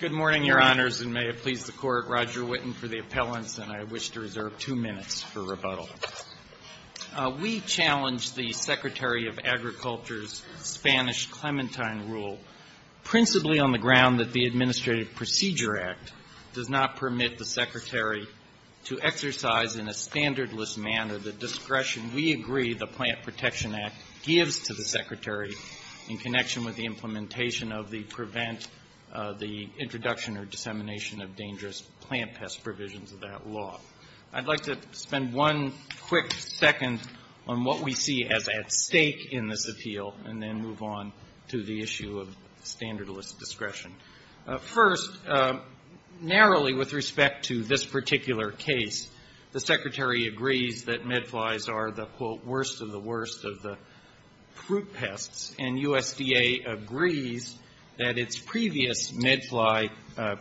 Good morning, Your Honors, and may it please the Court, Roger Whitten for the appellants, and I wish to reserve two minutes for rebuttal. We challenge the Secretary of Agriculture's Spanish-Clementine rule, principally on the ground that the Administrative Procedure Act does not permit the Secretary to exercise in a standardless manner the discretion we agree the Plant Protection Act gives to the Secretary in connection with the implementation of the Prevent the Introduction or Dissemination of Dangerous Plant Pest Provisions of that law. I'd like to spend one quick second on what we see as at stake in this appeal and then move on to the issue of standardless discretion. First, narrowly with respect to this particular case, the Secretary agrees that midflies are the, quote, worst of the worst of the fruit pests, and USDA agrees that its previous midfly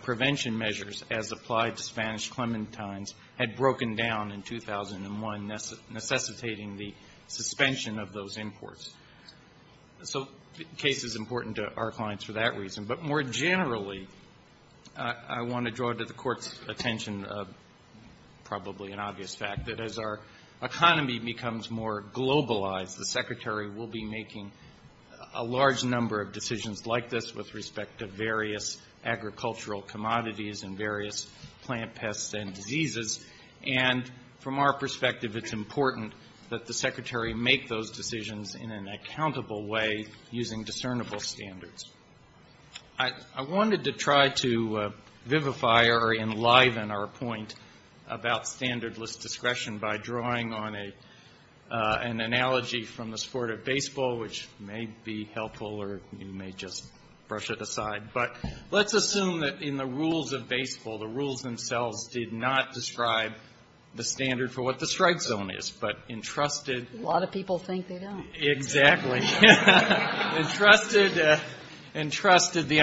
prevention measures, as applied to Spanish clementines, had broken down in 2001, necessitating the suspension of those imports. So the case is important to our clients for that reason. But more generally, I want to draw to the Court's attention probably an obvious fact that as our economy becomes more globalized, the Secretary will be making a large number of decisions like this with respect to various agricultural commodities and various plant pests and diseases. And from our perspective, it's important that the Secretary make those decisions in an accountable way using discernible standards. I wanted to try to vivify or enliven our point about standardless discretion by drawing on an analogy from the sport of baseball, which may be helpful or you may just brush it aside. But let's assume that in the rules of baseball, the rules themselves did not describe the standard for what the strike zone is, but entrusted the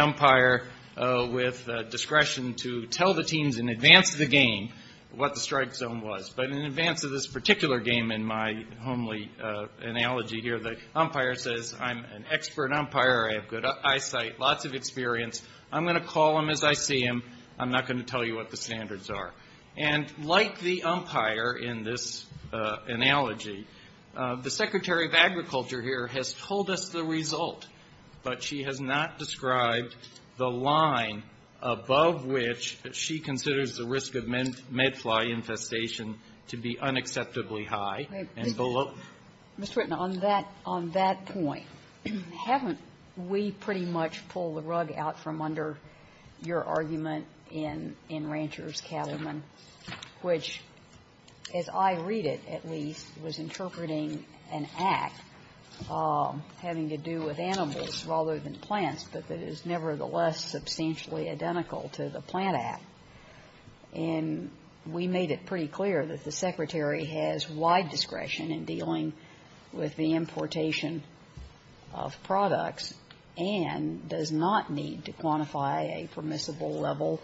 umpire with discretion to tell the teams in advance of the game what the strike zone was. But in advance of this particular game, in my homely analogy here, the umpire says, I'm an expert umpire. I have good eyesight, lots of experience. I'm going to call them as I see them. I'm not going to tell you what the standards are. And like the umpire in this analogy, the Secretary of Agriculture here has told us the result, but she has not described the line above which she considers the risk of medfly infestation to be unacceptably high. And below. Ms. Whitten, on that point, haven't we pretty much pulled the rug out from under your argument in Rancher's Cattlemen, which, as I read it, at least, was interpreting an act having to do with animals rather than plants, but that is nevertheless substantially identical to the plant act. And we made it pretty clear that the Secretary has wide discretion in dealing with the importation of products and does not need to quantify a permissible level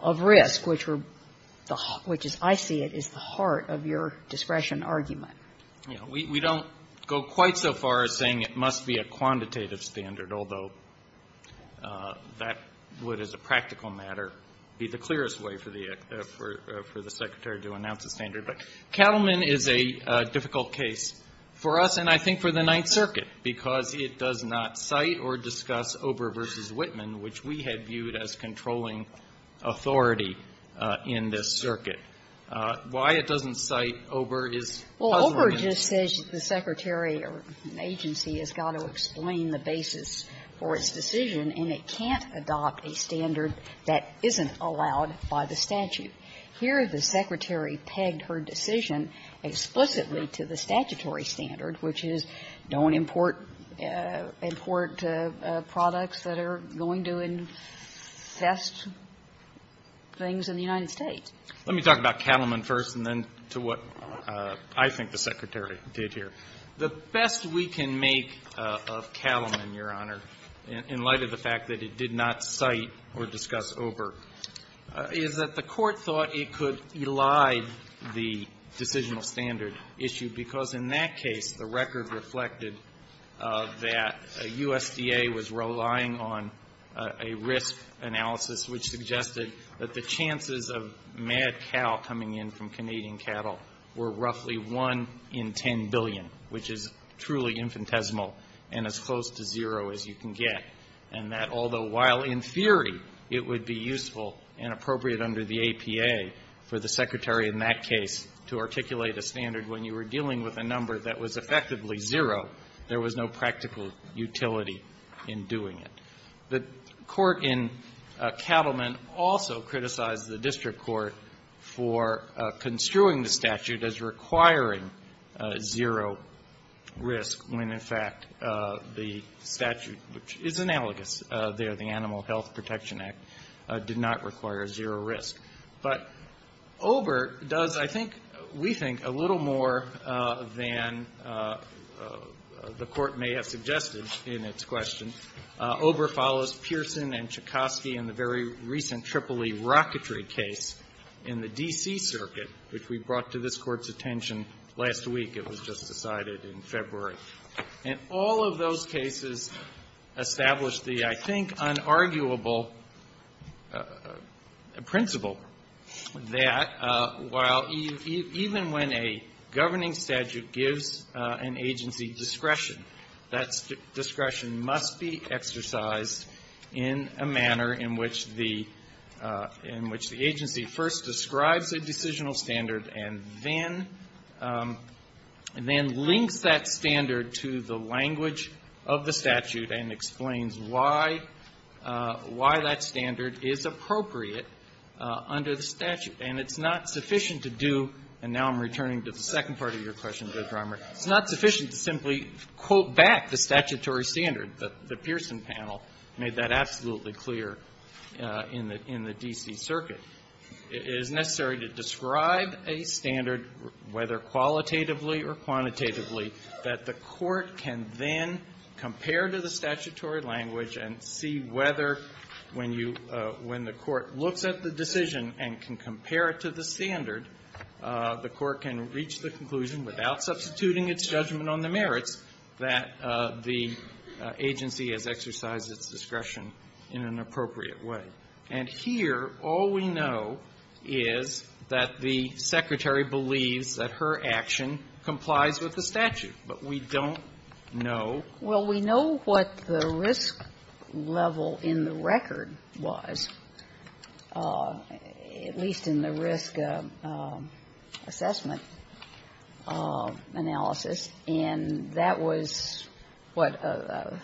of risk, which are the – which, as I see it, is the heart of your discretion argument. Yeah. We don't go quite so far as saying it must be a quantitative standard, although that would, as a practical matter, be the clearest way for the – for the Secretary to announce a standard. But Cattlemen is a difficult case for us and I think for the Ninth Circuit because it does not cite or discuss Ober v. Whitman, which we had viewed as controlling authority in this circuit. Why it doesn't cite Ober is puzzling. Ober just says the Secretary or an agency has got to explain the basis for its decision and it can't adopt a standard that isn't allowed by the statute. Here the Secretary pegged her decision explicitly to the statutory standard, which is don't import products that are going to infest things in the United States. Let me talk about Cattlemen first and then to what I think the Secretary did here. The best we can make of Cattlemen, Your Honor, in light of the fact that it did not cite or discuss Ober, is that the Court thought it could elide the decisional standard issue because in that case the record reflected that USDA was relying on a risk analysis which suggested that the chances of mad cow coming in from Canadian cattle were roughly 1 in 10 billion, which is truly infinitesimal and as close to zero as you can get. And that although while in theory it would be useful and appropriate under the APA for the Secretary in that case to articulate a standard when you were dealing with a number that was effectively zero, there was no practical utility in doing it. The Court in Cattlemen also criticized the district court for construing the statute as requiring zero risk when in fact the statute, which is analogous there, the Animal Health Protection Act, did not require zero risk. But Ober does, I think, we think, a little more than the Court may have suggested in its question, Ober follows Pearson and Chekovsky in the very recent EEE rocketry case in the D.C. Circuit, which we brought to this Court's attention last week. It was just decided in February. And all of those cases established the, I think, unarguable principle that while even when a governing statute gives an agency discretion, that discretion must be exercised in a manner in which the agency first describes a decisional standard and then links that standard to the language of the statute and explains why that standard is appropriate under the statute. And it's not sufficient to do, and now I'm returning to the second part of your question, Judge Romer, it's not sufficient to simply quote back the statutory standard. The Pearson panel made that absolutely clear in the D.C. Circuit. It is necessary to describe a standard, whether qualitatively or quantitatively, that the Court can then compare to the statutory language and see whether when you do, when the Court looks at the decision and can compare it to the standard, the Court can reach the conclusion without substituting its judgment on the merits that the agency has exercised its discretion in an appropriate way. And here, all we know is that the Secretary believes that her action complies with the statute. But we don't know. Well, we know what the risk level in the record was, at least in the risk assessment analysis, and that was, what, a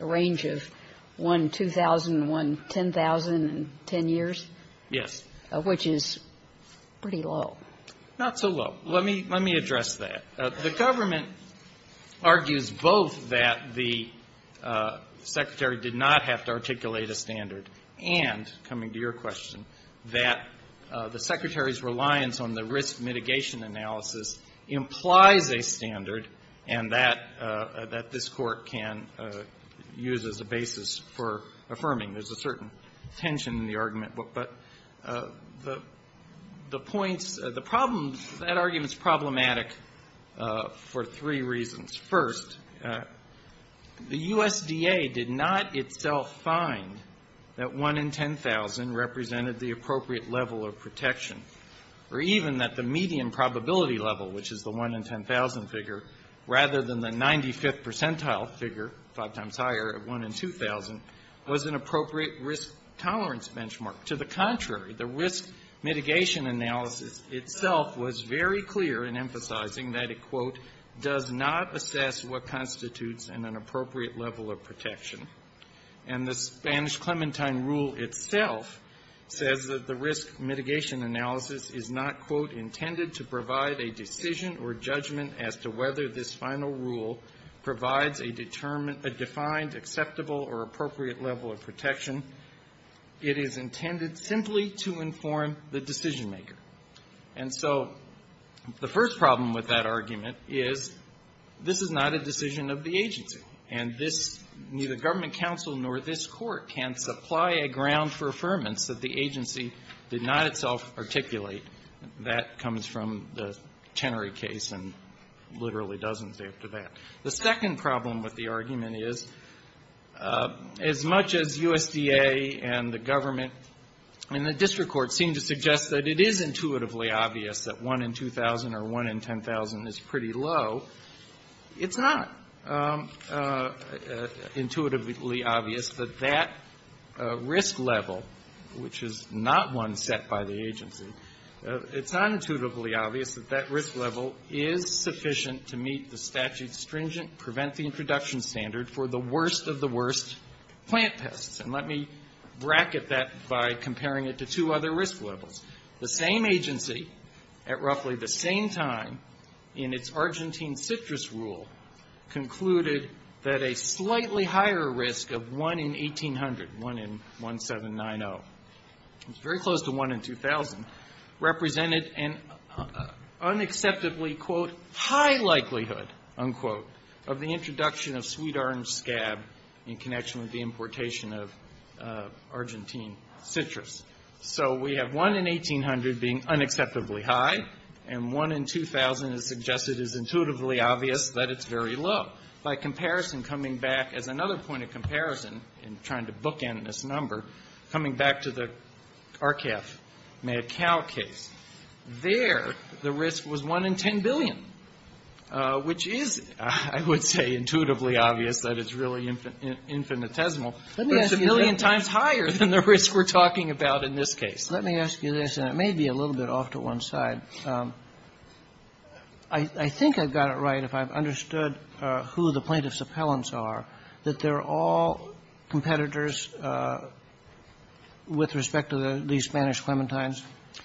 range of 1, 2,000, 1, 10,000, 10 years? Yes. Which is pretty low. Not so low. Let me address that. The government argues both that the Secretary did not have to articulate a standard and, coming to your question, that the Secretary's reliance on the risk mitigation analysis implies a standard and that this Court can use as a basis for affirming. There's a certain tension in the argument, but the points, the problem, that argument is problematic for three reasons. First, the USDA did not itself find that 1 in 10,000 represented the appropriate level of protection, or even that the median probability level, which is the 1 in 10,000 figure, rather than the 95th percentile figure, five times higher, of 1 in 2,000, was an appropriate risk tolerance benchmark. To the contrary, the risk mitigation analysis itself was very clear in emphasizing that it, quote, does not assess what constitutes an inappropriate level of protection. And the Spanish-Clementine rule itself says that the risk mitigation analysis is not, quote, intended to provide a decision or judgment as to whether this final rule provides a determined, a defined, acceptable, or appropriate level of protection. It is intended simply to inform the decision-maker. And so the first problem with that argument is this is not a decision of the agency, and this, neither government counsel nor this Court can supply a ground for affirmance that the agency did not itself articulate. That comes from the Tenery case and literally dozens after that. The second problem with the argument is, as much as USDA and the government and the district courts seem to suggest that it is intuitively obvious that 1 in 2,000 or 1 in 10,000 is pretty low, it's not intuitively obvious that that risk level, which is not one set by the agency, it's not intuitively obvious that that risk level is sufficient to meet the statute's stringent prevent the introduction standard for the worst of the worst plant pests. And let me bracket that by comparing it to two other risk levels. The same agency, at roughly the same time, in its Argentine citrus rule, concluded that a slightly higher risk of 1 in 1,800, 1 in 1,790, very close to 1 in 2,000, represented an unacceptably, quote, high likelihood, unquote, of the introduction of sweet orange scab in connection with the importation of Argentine citrus. So we have 1 in 1,800 being unacceptably high, and 1 in 2,000 is suggested as intuitively obvious that it's very low. By comparison, coming back as another point of comparison, in trying to bookend this number, coming back to the RCAF-Macao case, there the risk was 1 in 10 billion, which is, I would say, intuitively obvious that it's really infinitesimal. But it's a million times higher than the risk we're talking about in this case. Let me ask you this, and it may be a little bit off to one side. I think I've got it right, if I've understood who the plaintiff's appellants are, that they're all competitors with respect to the Spanish clementines?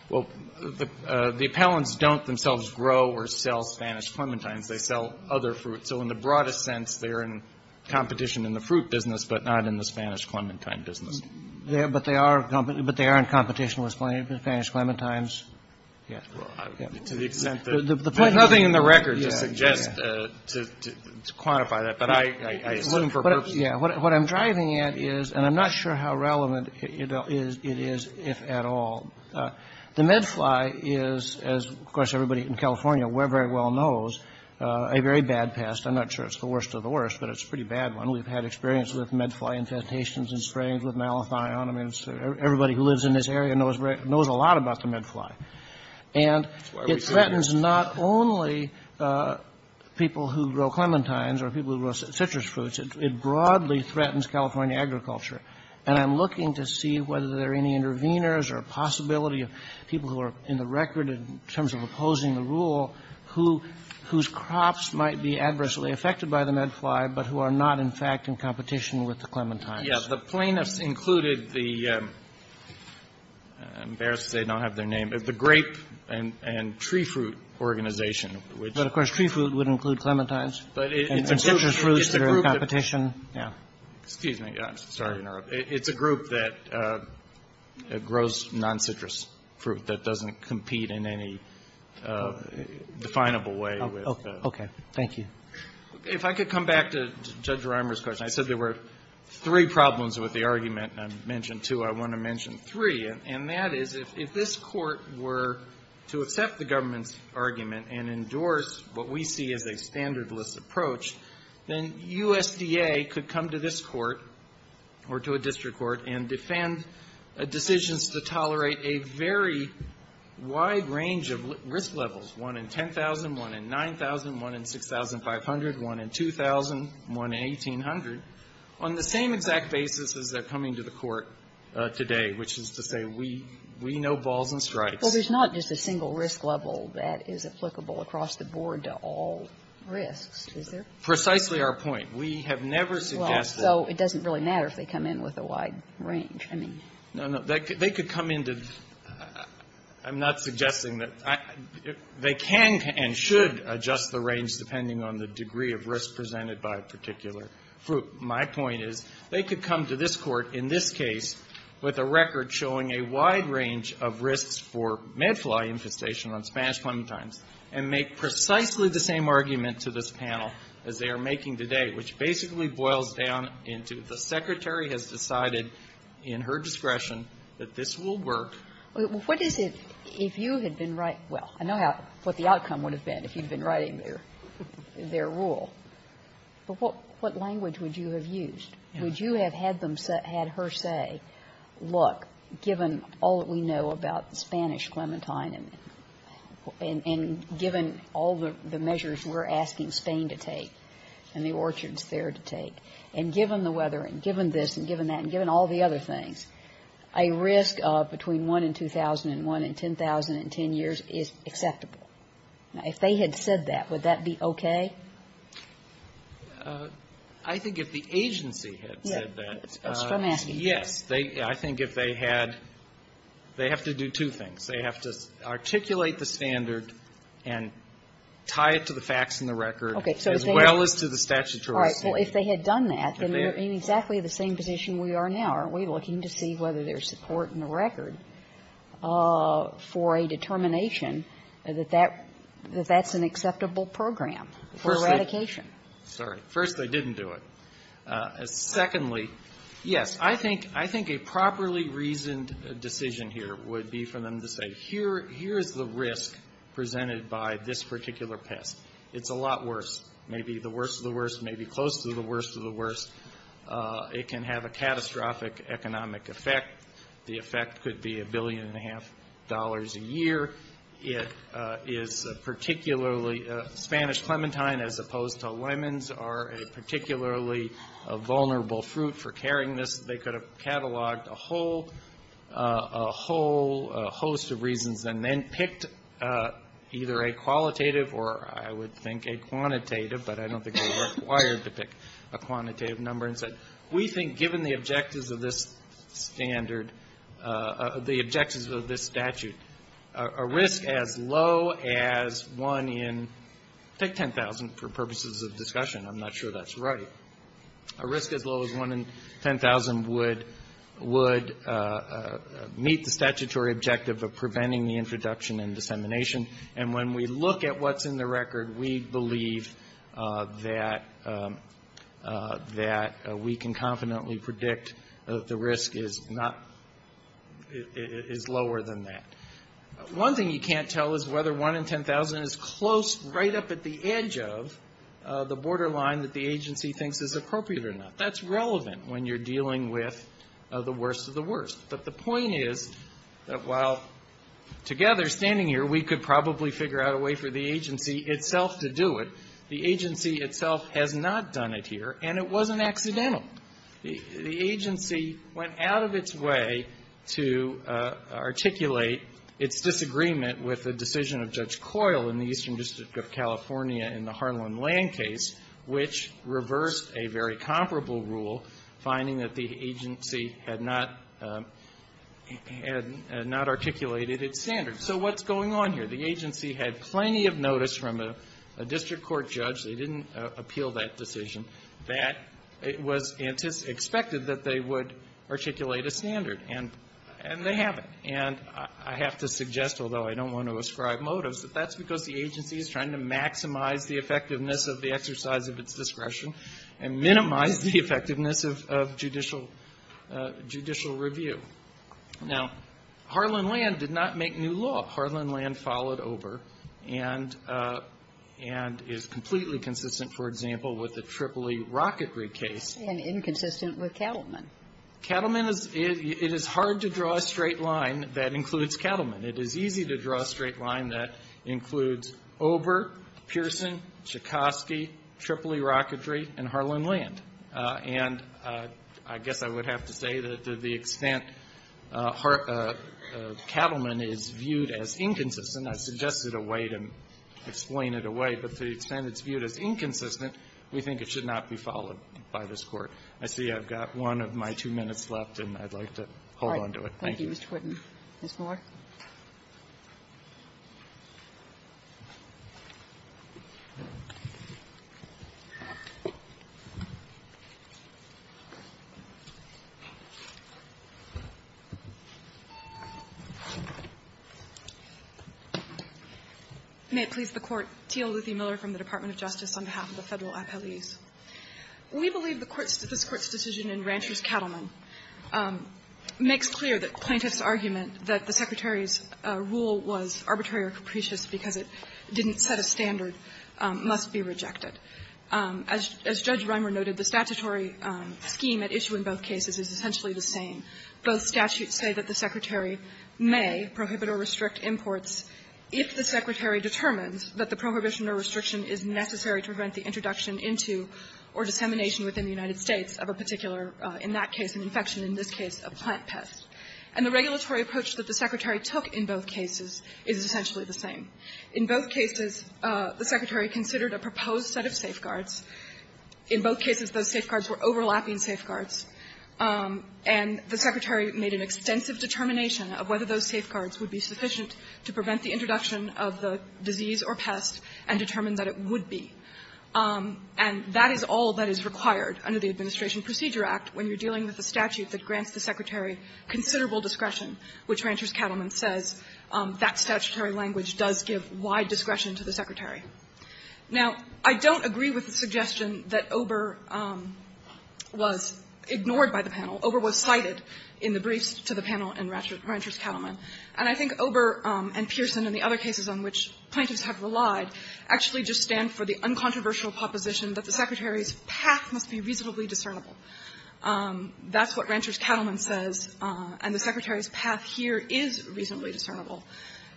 Well, the appellants don't themselves grow or sell Spanish clementines. They sell other fruit. So in the broadest sense, they're in competition in the fruit business, but not in the Spanish clementine business. But they are in competition with Spanish clementines? To the extent that there's nothing in the record to suggest, to quantify that, but I assume for purpose. What I'm driving at is, and I'm not sure how relevant it is, if at all. The medfly is, as, of course, everybody in California very well knows, a very bad pest. I'm not sure it's the worst of the worst, but it's a pretty bad one. We've had experience with medfly infestations in springs with malathion. I mean, everybody who lives in this area knows a lot about the medfly. And it threatens not only people who grow clementines or people who grow citrus fruits. It broadly threatens California agriculture. And I'm looking to see whether there are any interveners or possibility of people who are in the record in terms of opposing the rule whose crops might be adversely affected by the medfly, but who are not, in fact, in competition with the clementines. Yeah. The plaintiffs included the grape and tree fruit organization. But, of course, tree fruit would include clementines and citrus fruits that are in competition. Yeah. Excuse me. I'm sorry to interrupt. It's a group that grows non-citrus fruit that doesn't compete in any definable way. Okay. Thank you. If I could come back to Judge Rimer's question. I said there were three problems with the argument. I mentioned two. I want to mention three. And that is, if this Court were to accept the government's argument and endorse what we see as a standardless approach, then USDA could come to this Court or to a district court and defend decisions to tolerate a very wide range of risk levels, one in 10,000, one in 9,000, one in 6,500, one in 2,000, one in 1,800, on the same exact basis as they're coming to the Court today, which is to say we know balls and strikes. Well, there's not just a single risk level that is applicable across the board to all risks, is there? Precisely our point. We have never suggested that. Well, so it doesn't really matter if they come in with a wide range, I mean. No, no. They could come in to the — I'm not suggesting that — they can and should adjust the range depending on the degree of risk presented by a particular fruit. My point is they could come to this Court in this case with a record showing a wide range of risks for medfly infestation on Spanish plantains and make precisely the same argument to this panel as they are making today, which basically boils down into the Secretary has decided in her discretion that this will work. What is it, if you had been writing — well, I know what the outcome would have been if you'd been writing their rule, but what language would you have used? Would you have had them — had her say, look, given all that we know about the Spanish clementine and given all the measures we're asking Spain to take and the orchards there to take, and given the weather and given this and given that and given all the other things, a risk of between 1 in 2001 and 10,000 in 10 years is acceptable. If they had said that, would that be okay? I think if the agency had said that, yes. I think if they had, they have to do two things. They have to articulate the standard and tie it to the facts in the record as well as to the statutory standard. All right. Well, if they had done that, then we're in exactly the same position we are now, aren't we, looking to see whether there's support in the record for a determination that that — that that's an acceptable program for eradication. First — sorry. First, they didn't do it. Secondly, yes. I think — I think a properly reasoned decision here would be for them to say, here is the risk presented by this particular pest. It's a lot worse. Maybe the worst of the worst, maybe close to the worst of the worst. It can have a catastrophic economic effect. The effect could be a billion and a half dollars a year. It is a particularly — Spanish clementine, as opposed to lemons, are a particularly vulnerable fruit for carrying this. They could have cataloged a whole — a whole host of reasons and then picked either a qualitative or, I would think, a quantitative, but I don't think they were required to pick a quantitative number. And so we think, given the objectives of this standard — the objectives of this statute, a risk as low as one in — take 10,000 for purposes of discussion. I'm not sure that's right. A risk as low as one in 10,000 would — would meet the statutory objective of preventing the introduction and dissemination. And when we look at what's in the record, we believe that — that we can confidently predict that the risk is not — is lower than that. One thing you can't tell is whether one in 10,000 is close right up at the edge of the borderline that the agency thinks is appropriate or not. That's relevant when you're dealing with the worst of the worst. But the point is that while, together, standing here, we could probably figure out a way for the agency itself to do it, the agency itself has not done it here, and it wasn't accidental. The agency went out of its way to articulate its disagreement with the decision of Judge Coyle in the Eastern District of California in the Harlan Land case, which had not articulated its standards. So what's going on here? The agency had plenty of notice from a district court judge. They didn't appeal that decision. That — it was expected that they would articulate a standard, and — and they haven't. And I have to suggest, although I don't want to ascribe motives, that that's because the agency is trying to maximize the effectiveness of the exercise of its discretion and minimize the effectiveness of — of judicial — judicial review. Now, Harlan Land did not make new law. Harlan Land followed OBRA and — and is completely consistent, for example, with the Tripoli Rocketry case. And inconsistent with Cattleman. Cattleman is — it is hard to draw a straight line that includes Cattleman. It is easy to draw a straight line that includes OBRA, Pearson, Chikosky, Tripoli Rocketry, and Harlan Land. And I guess I would have to say that to the extent Har — Cattleman is viewed as inconsistent, I suggested a way to explain it away, but to the extent it's viewed as inconsistent, we think it should not be followed by this Court. I see I've got one of my two minutes left, and I'd like to hold on to it. Thank you, Mr. Whitten. Ms. Moore. May it please the Court. Teal Luthy Miller from the Department of Justice on behalf of the Federal Appellees. We believe the Court's — this Court's decision in Rancher's case, the plaintiff's argument that the Secretary's rule was arbitrary or capricious because it didn't set a standard, must be rejected. As Judge Reimer noted, the statutory scheme at issue in both cases is essentially the same. Both statutes say that the Secretary may prohibit or restrict imports if the Secretary determines that the prohibition or restriction is necessary to prevent the introduction into or dissemination within the United States of a particular, in that case an infection, in this case a plant pest. And the regulatory approach that the Secretary took in both cases is essentially the same. In both cases, the Secretary considered a proposed set of safeguards. In both cases, those safeguards were overlapping safeguards, and the Secretary made an extensive determination of whether those safeguards would be sufficient to prevent the introduction of the disease or pest and determine that it would be. And that is all that is required under the Administration Procedure Act when you're in a statute that grants the Secretary considerable discretion, which Rancher's Cattleman says that statutory language does give wide discretion to the Secretary. Now, I don't agree with the suggestion that Ober was ignored by the panel. Ober was cited in the briefs to the panel in Rancher's Cattleman. And I think Ober and Pearson and the other cases on which plaintiffs have relied actually just stand for the uncontroversial proposition that the Secretary's path must be reasonably discernible. That's what Rancher's Cattleman says, and the Secretary's path here is reasonably discernible.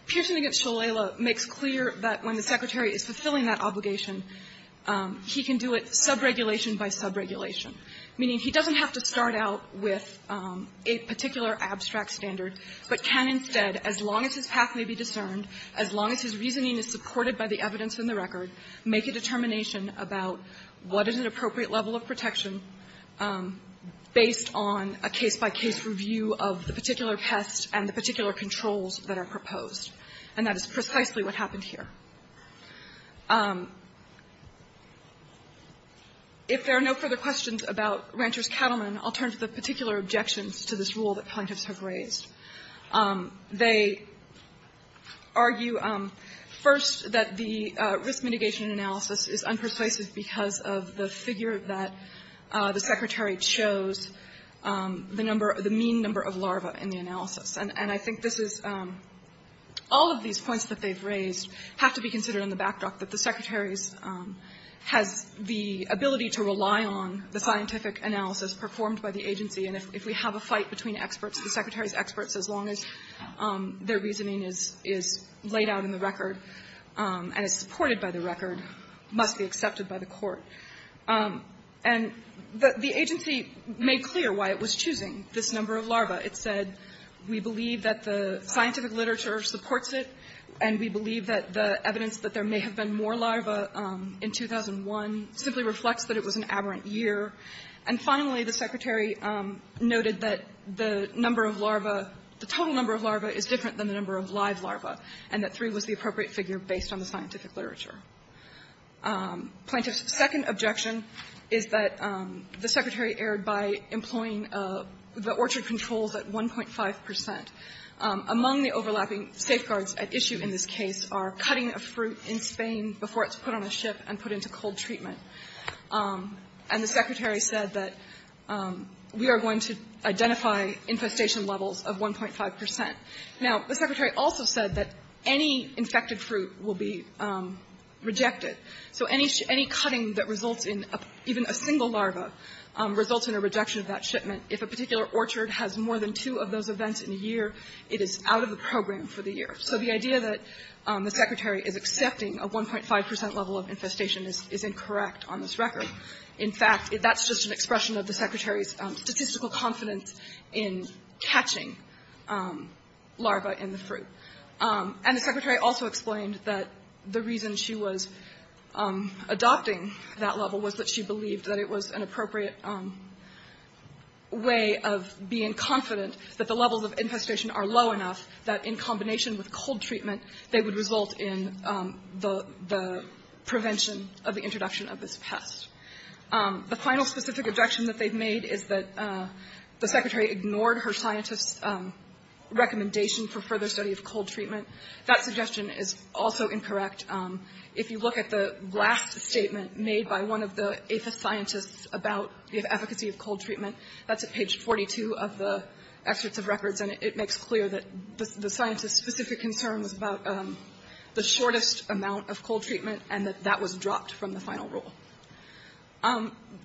Pearson v. Shalala makes clear that when the Secretary is fulfilling that obligation, he can do it subregulation by subregulation, meaning he doesn't have to start out with a particular abstract standard, but can instead, as long as his path may be discerned, as long as his reasoning is supported by the evidence in the record, make a determination about what is an appropriate level of protection based on a case-by-case review of the particular test and the particular controls that are proposed. And that is precisely what happened here. If there are no further questions about Rancher's Cattleman, I'll turn to the particular objections to this rule that plaintiffs have raised. They argue, first, that the risk mitigation analysis is unpersuasive because of the figure that the Secretary chose, the number of the mean number of larvae in the analysis. And I think this is all of these points that they've raised have to be considered in the backdrop that the Secretary's has the ability to rely on the scientific analysis performed by the agency. And if we have a fight between experts, the Secretary's experts, as long as their reasoning is laid out in the record and is supported by the record, must be accepted by the Court. And the agency made clear why it was choosing this number of larvae. It said, we believe that the scientific literature supports it, and we believe that the evidence that there may have been more larvae in 2001 simply reflects that it was an aberrant year. And finally, the Secretary noted that the number of larvae, the total number of larvae is different than the number of live larvae, and that three was the appropriate figure based on the scientific literature. Plaintiff's second objection is that the Secretary erred by employing the orchard controls at 1.5 percent. Among the overlapping safeguards at issue in this case are cutting a fruit in Spain before it's put on a ship and put into cold treatment. And the Secretary said that we are going to identify infestation levels of 1.5 percent. Now, the Secretary also said that any infected fruit will be rejected. So any cutting that results in even a single larva results in a rejection of that shipment. If a particular orchard has more than two of those events in a year, it is out of the program for the year. So the idea that the Secretary is accepting a 1.5 percent level of infestation is incorrect on this record. In fact, that's just an expression of the Secretary's statistical confidence in catching larvae in the fruit. And the Secretary also explained that the reason she was adopting that level was that she believed that it was an appropriate way of being confident that the levels of infestation are low enough that in combination with cold treatment, they would result in the prevention of the introduction of this pest. The final specific objection that they've made is that the Secretary ignored her scientist's recommendation for further study of cold treatment. That suggestion is also incorrect. If you look at the last statement made by one of the aethoscientists about the efficacy of cold treatment, that's at page 42 of the excerpts of records. And it makes clear that the scientist's specific concern was about the shortest amount of cold treatment, and that that was dropped from the final rule.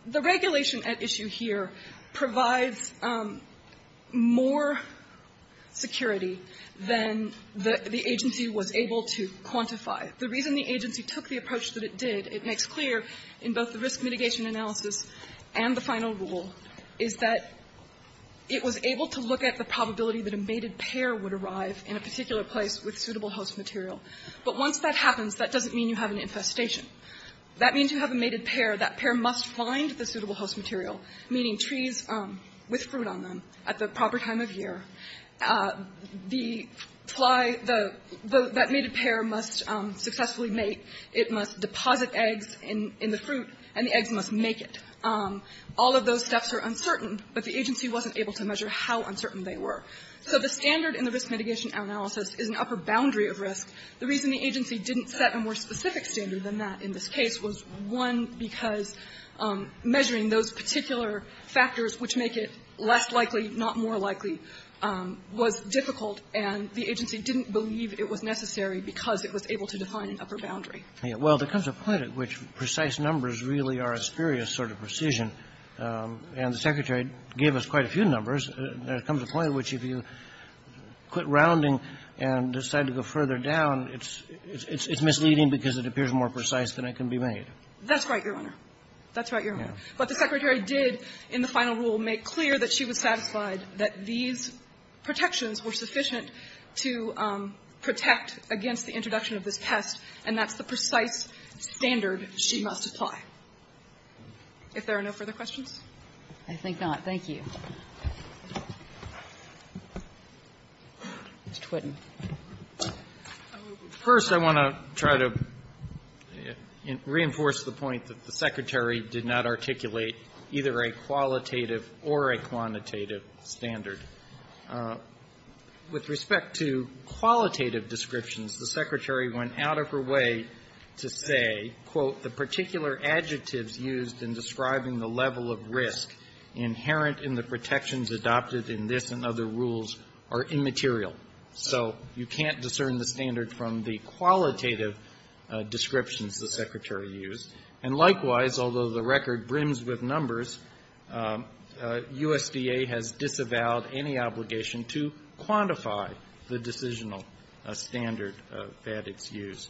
The regulation at issue here provides more security than the agency was able to quantify. The reason the agency took the approach that it did, it makes clear in both the risk that a mated pair would arrive in a particular place with suitable host material. But once that happens, that doesn't mean you have an infestation. That means you have a mated pair. That pair must find the suitable host material, meaning trees with fruit on them at the proper time of year. The fly, that mated pair must successfully mate. It must deposit eggs in the fruit, and the eggs must make it. All of those steps are uncertain, but the agency wasn't able to measure how uncertain they were. So the standard in the risk mitigation analysis is an upper boundary of risk. The reason the agency didn't set a more specific standard than that in this case was, one, because measuring those particular factors which make it less likely, not more likely, was difficult, and the agency didn't believe it was necessary because it was able to define an upper boundary. Well, there comes a point at which precise numbers really are a spurious sort of precision. And the Secretary gave us quite a few numbers. There comes a point at which if you quit rounding and decide to go further down, it's misleading because it appears more precise than it can be made. That's right, Your Honor. That's right, Your Honor. But the Secretary did, in the final rule, make clear that she was satisfied that these protections were sufficient to protect against the introduction of this pest, and that's the precise standard she must apply. If there are no further questions? I think not. Thank you. Mr. Twitten. First, I want to try to reinforce the point that the Secretary did not articulate either a qualitative or a quantitative standard. With respect to qualitative descriptions, the Secretary went out of her way to say, quote, the particular adjectives used in describing the level of risk inherent in the protections adopted in this and other rules are immaterial. So you can't discern the standard from the qualitative descriptions the Secretary used. And likewise, although the record brims with numbers, USDA has disavowed any obligation to quantify the decisional standard that it's used.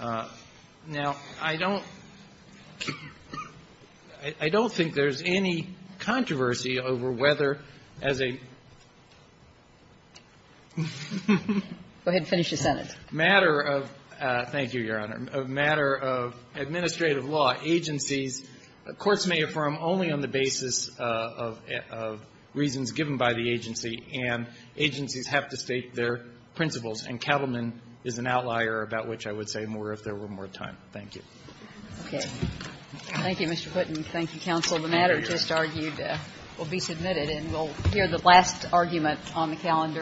Now, I don't think there's any controversy over whether, as a matter of the matter of administrative law, agencies, courts may affirm only on the basis of reasons given by the agency, and agencies have to state their principles. And Kettleman is an outlier about which I would say more if there were more time. Thank you. Okay. Thank you, Mr. Twitten. Thank you, counsel. The matter just argued will be submitted, and we'll hear the last argument on the calendar.